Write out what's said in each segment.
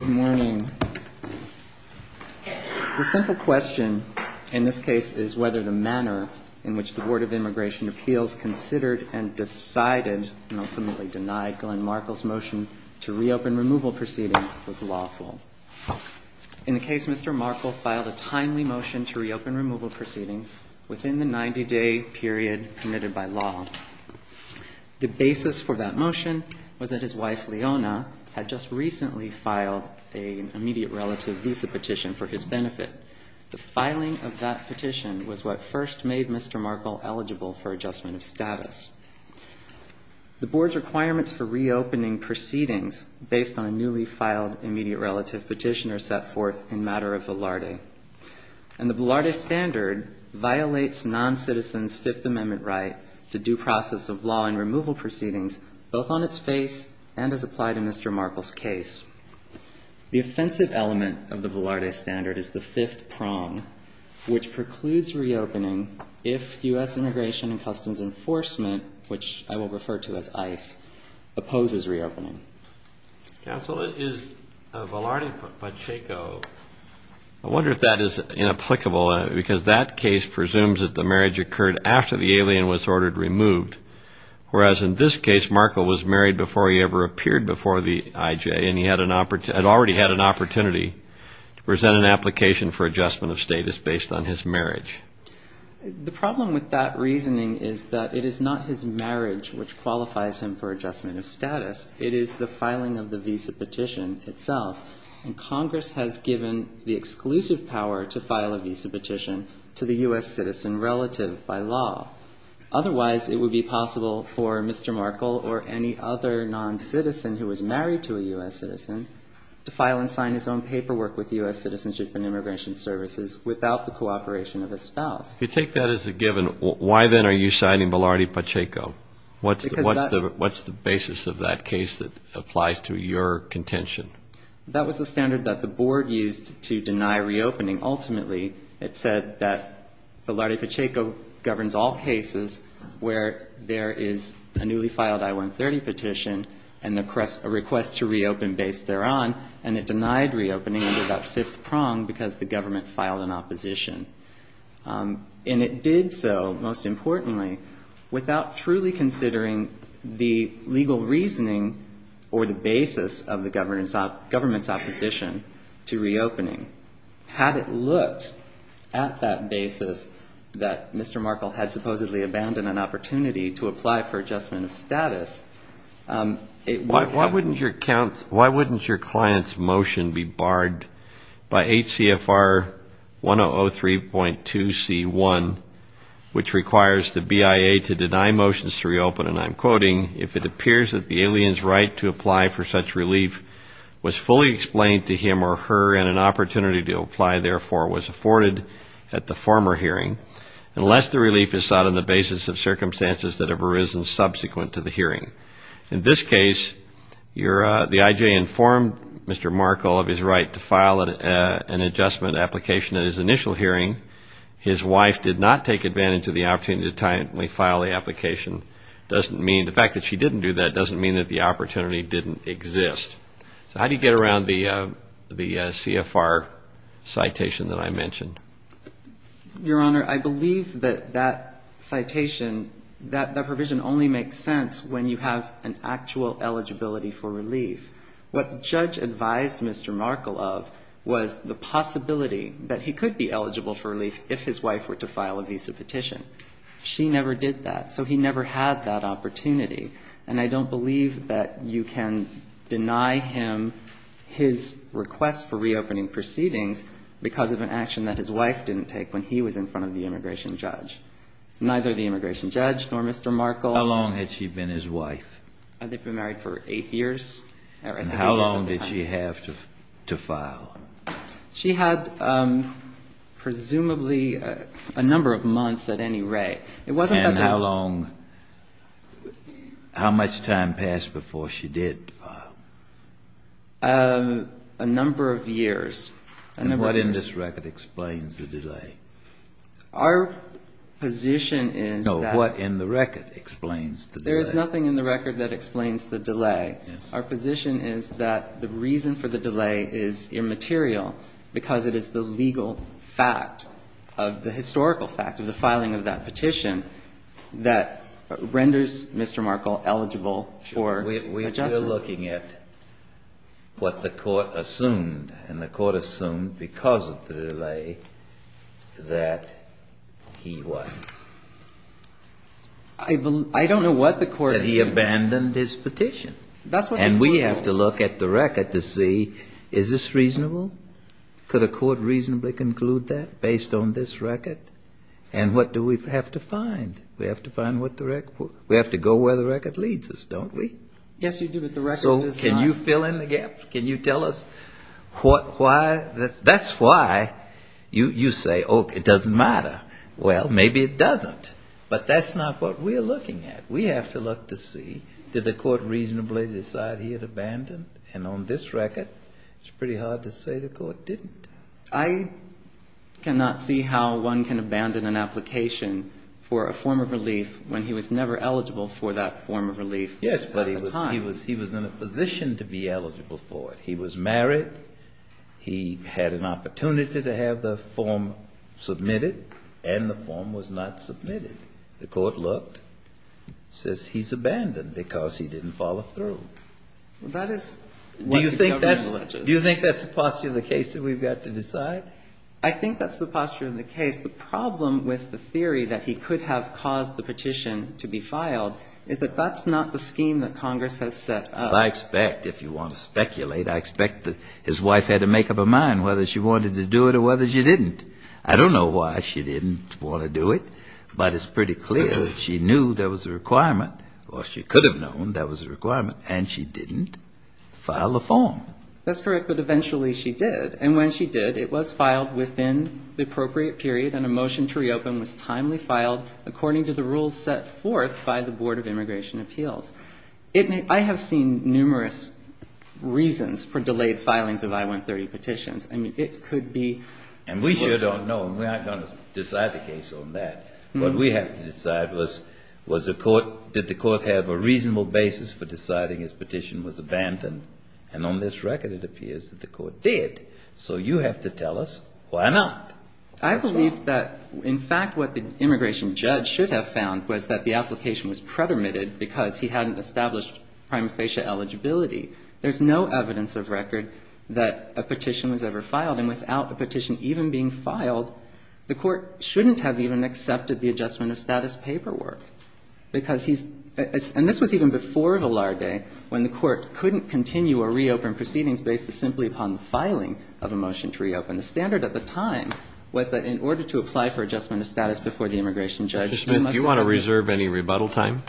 Good morning. The simple question in this case is whether the manner in which the Board of Immigration Appeals considered and decided, and ultimately denied, Glenn Markle's motion to reopen removal proceedings was lawful. In the case, Mr. Markle filed a timely motion to reopen removal proceedings within the 90-day period committed by law. The basis for that immediate relative visa petition for his benefit. The filing of that petition was what first made Mr. Markle eligible for adjustment of status. The Board's requirements for reopening proceedings based on a newly filed immediate relative petition are set forth in matter of Velarde. And the Velarde standard violates non-citizens' Fifth Amendment right to due process of law and removal proceedings both on its face and as applied in Mr. Markle's case. The offensive element of the Velarde standard is the fifth prong, which precludes reopening if U.S. Immigration and Customs Enforcement, which I will refer to as ICE, opposes reopening. Counsel, it is a Velarde by Chaco. I wonder if that is inapplicable, because that case presumes that the marriage occurred after the alien was ordered removed. Whereas in this case, Markle was married before he ever appeared before the IJ, and he had already had an opportunity to present an application for adjustment of status based on his marriage. The problem with that reasoning is that it is not his marriage which qualifies him for adjustment of status. It is the filing of the visa petition itself. And Congress has given the exclusive power to file a visa petition to the U.S. citizen relative by law. Otherwise, it would be possible for Mr. Markle or any other non-citizen who was married to a U.S. citizen to file and sign his own paperwork with U.S. Citizenship and Immigration Services without the cooperation of a spouse. If you take that as a given, why, then, are you signing Velarde by Chaco? What's the basis of that case that applies to your contention? That was the standard that the Board used to deny reopening. Ultimately, it said that Velarde by Chaco governs all cases where there is a newly filed I-130 petition and a request to reopen based thereon, and it denied reopening under that fifth prong because the government filed an opposition. And it did so, most importantly, without truly considering the legal reasoning or the basis of the government's opposition to reopening. Had it looked at that basis that Mr. Markle had supposedly abandoned an opportunity to apply for adjustment of status, it would have... Why wouldn't your client's motion be barred by H.C.F.R. 1003.2C1, which requires the BIA to deny motions to reopen, and I'm quoting, if it appears that the alien's right to apply for such relief was fully explained to him or her and an opportunity to apply, therefore, was afforded at the former hearing, unless the relief is sought on the grounds that have arisen subsequent to the hearing. In this case, the I.J. informed Mr. Markle of his right to file an adjustment application at his initial hearing. His wife did not take advantage of the opportunity to timely file the application. The fact that she didn't do that doesn't mean that the opportunity didn't exist. So how do you get around the C.F.R. citation that I mentioned? Your Honor, I believe that that citation, that provision only makes sense when you have an actual eligibility for relief. What the judge advised Mr. Markle of was the possibility that he could be eligible for relief if his wife were to file a visa petition. She never did that, so he never had that opportunity. And I don't believe that you can deny him his request for reopening proceedings because of an action that his wife didn't take when he was in front of the immigration judge. Neither the immigration judge nor Mr. Markle. How long had she been his wife? They've been married for eight years. And how long did she have to file? She had presumably a number of months at any rate. And how much time passed before she did file? A number of years. And what in this record explains the delay? No, what in the record explains the delay? There is nothing in the record that explains the delay. Our position is that the reason for the delay is immaterial because it is the legal fact, the historical fact of the filing of that petition that renders Mr. Markle eligible for adjustment. We are looking at what the court assumed, and the court assumed because of the delay that he what? I don't know what the court assumed. That he abandoned his petition. And we have to look at the record to see is this reasonable? Could a court reasonably conclude that based on this record? And what do we have to find? We have to go where the record leads us, don't we? Yes, you do, but the record does not. So can you fill in the gap? Can you tell us why? That's why you say, oh, it doesn't matter. Well, maybe it doesn't. But that's not what we're looking at. We have to look to see, did the court reasonably decide he had abandoned? And on this record, it's pretty hard to say the court didn't. I cannot see how one can abandon an application for a form of relief when he was never eligible for that form of relief. Yes, but he was in a position to be eligible for it. He was married. He had an opportunity to have the form submitted, and the form was not submitted. The court looked, says he's abandoned because he didn't follow through. Do you think that's the posture of the case that we've got to decide? I think that's the posture of the case. The problem with the theory that he could have caused the petition to be filed is that that's not the scheme that Congress has set up. I expect, if you want to speculate, I expect that his wife had to make up her mind whether she wanted to do it or whether she didn't. I don't know why she didn't want to do it, but it's pretty clear that she knew there was a requirement, or she could have known there was a requirement, and she didn't file a form. That's correct, but eventually she did, and when she did, it was filed within the appropriate period, and a motion to reopen was timely filed according to the rules set forth by the Board of Immigration Appeals. I have seen numerous reasons for delayed filings of I-130 petitions. I mean, it could be... And we sure don't know, and we aren't going to decide the case on that. What we have to decide was, did the court have a reasonable basis for deciding his petition was abandoned? And on this front, we have to decide whether it was a reasonable decision. And on this record, it appears that the court did. So you have to tell us why not. I believe that, in fact, what the immigration judge should have found was that the application was pretermited because he hadn't established prima facie eligibility. There's no evidence of record that a petition was ever filed, and without a petition even being filed, the court shouldn't have even accepted the adjustment of status paperwork, because he's... And this was even before Vilar Day, when the court couldn't continue or reopen proceedings based simply upon the filing of a motion to reopen. The standard at the time was that in order to apply for adjustment of status before the immigration judge, you must... Do you want to reserve any rebuttal time?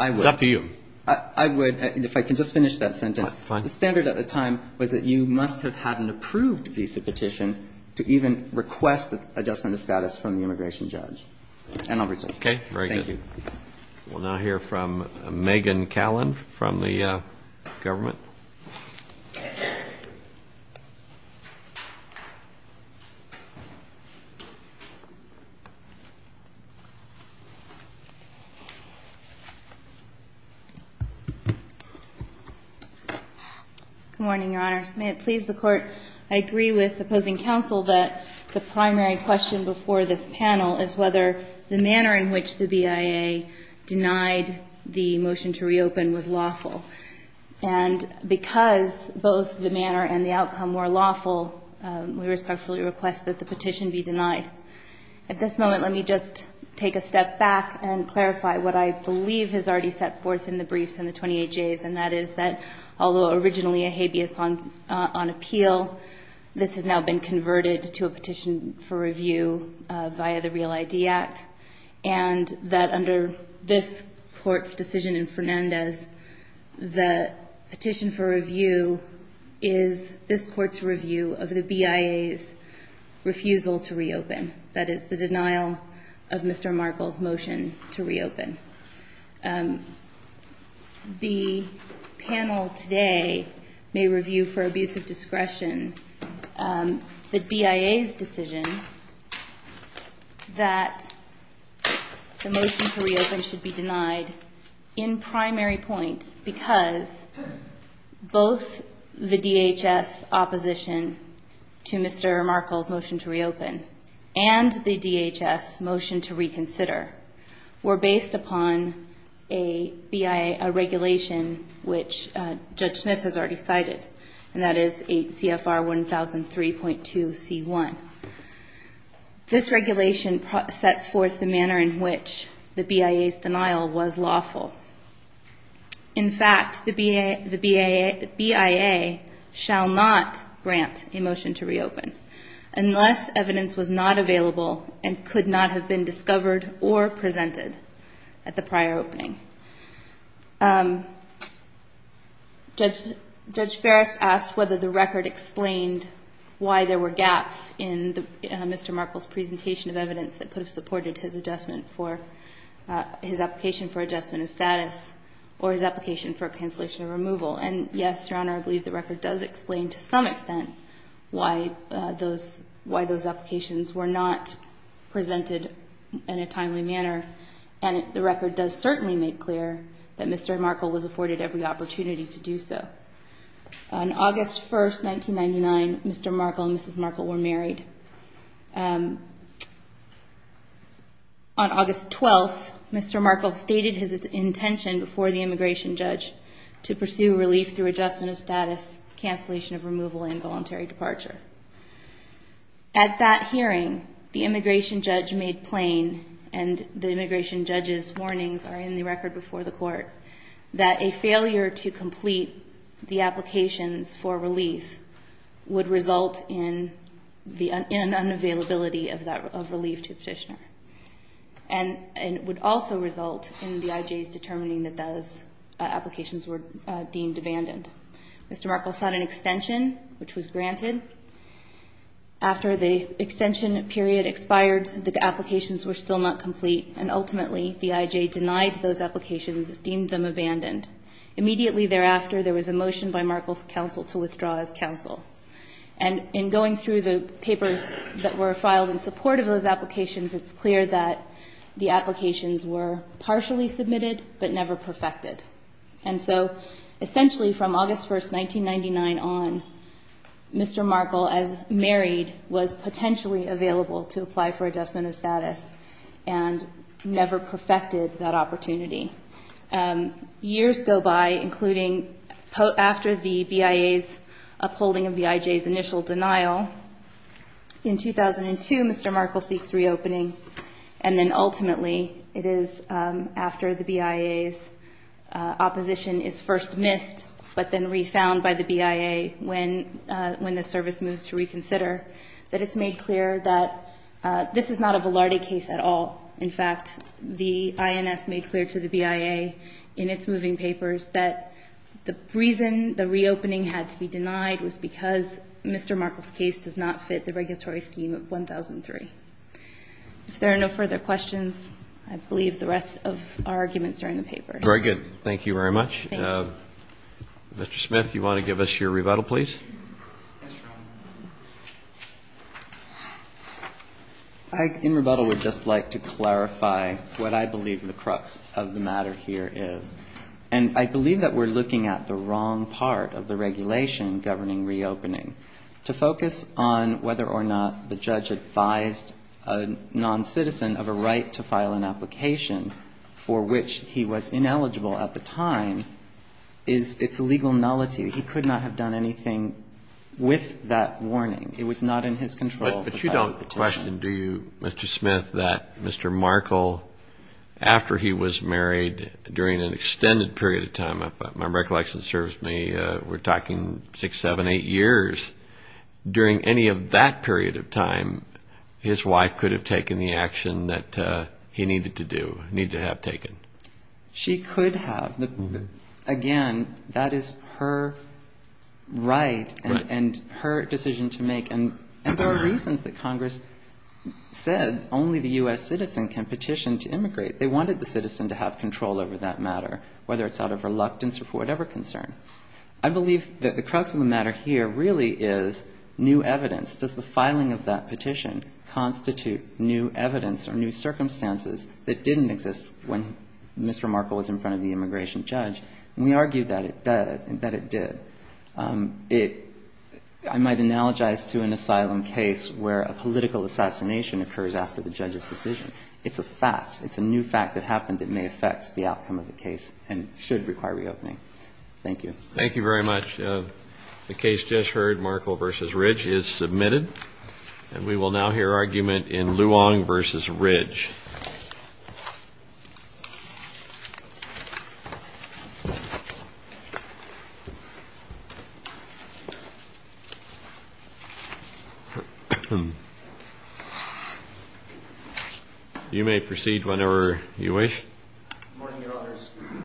I would. It's up to you. I would. And if I can just finish that sentence. Fine. The standard at the time was that you must have had an approved visa petition to even request adjustment of status from the immigration judge. And I'll reserve it. Okay. Very good. Thank you. We'll now hear from Megan Callan from the government. Good morning, Your Honors. May it please the Court, I agree with opposing counsel that the primary question before this panel is whether the manner in which the BIA denied the motion to reopen was lawful. And because both the manner and the outcome were lawful, we respectfully request that the petition be denied. At this moment, let me just take a step back and clarify what I believe is already set forth in the briefs in the 28Js, and that is that although originally a habeas on appeal, this has now been converted to a petition for review via the Real ID Act, and that under this Court's decision in Fernandez, the petition for review is this Court's review of the BIA's refusal to reopen. That is, the denial of Mr. Markle's motion to reopen. The panel today may review for abuse of discretion the BIA's decision that the motion to reopen should be denied in primary point because both the DHS opposition to Mr. Markle's motion to reopen and the DHS motion to reconsider were based upon the BIA's refusal to reopen. And that is based upon a BIA regulation which Judge Smith has already cited, and that is 8 CFR 1003.2 C1. This regulation sets forth the manner in which the BIA's denial was lawful. In fact, the BIA shall not grant a motion to reopen unless evidence was not available and could not have been discovered or presented at the prior opening. Judge Ferris asked whether the record explained why there were gaps in Mr. Markle's presentation of evidence that could have supported his adjustment for his application for adjustment of status or his application for cancellation of removal. And yes, Your Honor, I believe the record does explain to some extent why those applications were not presented in a timely manner, and the record does certainly make clear that Mr. Markle was afforded every opportunity to do so. On August 1st, 1999, Mr. Markle and Mrs. Markle were married. On August 12th, Mr. Markle stated his intention before the immigration judge to pursue relief through adjustment of status, cancellation of removal, and voluntary departure. At that hearing, the immigration judge made plain, and the immigration judge's warnings are in the record before the Court, that a failure to complete the applications for relief would result in an unavailability of relief to a petitioner. And it would also result in the IJs determining that those applications were deemed abandoned. Mr. Markle sought an extension, which was granted. After the extension period expired, the applications were still not complete, and ultimately, the IJ denied those applications, deemed them abandoned. Immediately thereafter, there was a motion by Markle's counsel to withdraw his counsel. And in going through the papers that were filed in support of those applications, it's clear that the applications were partially submitted but never perfected. And so, essentially, from August 1st, 1999 on, Mr. Markle, as married, was potentially available to apply for adjustment of status and never perfected that opportunity. Years go by, including after the BIA's upholding of the IJ's initial denial. In 2002, Mr. Markle seeks reopening. And then, ultimately, it is after the BIA's opposition is first missed but then refound by the BIA when the service moves to reconsider, that it's made clear that this is not a Velarde case at all. In fact, the INS made clear to the BIA in its moving papers that the reason the reopening had to be denied was because Mr. Markle's case does not fit the regulatory scheme of 1003. If there are no further questions, I believe the rest of our arguments are in the paper. Very good. Thank you very much. Thank you. Mr. Smith, you want to give us your rebuttal, please? Yes, Your Honor. I, in rebuttal, would just like to clarify what I believe the crux of the matter here is. And I believe that we're looking at the wrong part of the regulation governing reopening. To focus on whether or not the judge advised a noncitizen of a right to file an application for which he was ineligible at the time is, it's a legal nullity. He could not have done anything with that warning. It was not in his control. But you don't question, do you, Mr. Smith, that Mr. Markle, after he was married, during an extended period of time, if my recollection serves me, we're talking 6, 7, 8 years. During any of that period of time, his wife could have taken the action that he needed to do, needed to have taken. She could have. Again, that is her right and her decision to make. And there are reasons that Congress said only the U.S. citizen can petition to immigrate. They wanted the citizen to have control over that matter, whether it's out of reluctance or for whatever concern. I believe that the crux of the matter here really is new evidence. Does the filing of that petition constitute new evidence or new circumstances that didn't exist when Mr. Markle was in front of the immigration judge? And we argue that it did. I might analogize to an asylum case where a political assassination occurs after the judge's decision. It's a fact. It's a new fact that happened that may affect the outcome of the case and should require reopening. Thank you. Thank you very much. The case just heard, Markle v. Ridge, is submitted. And we will now hear argument in Luong v. Ridge. You may proceed whenever you wish. Good morning, Your Honors.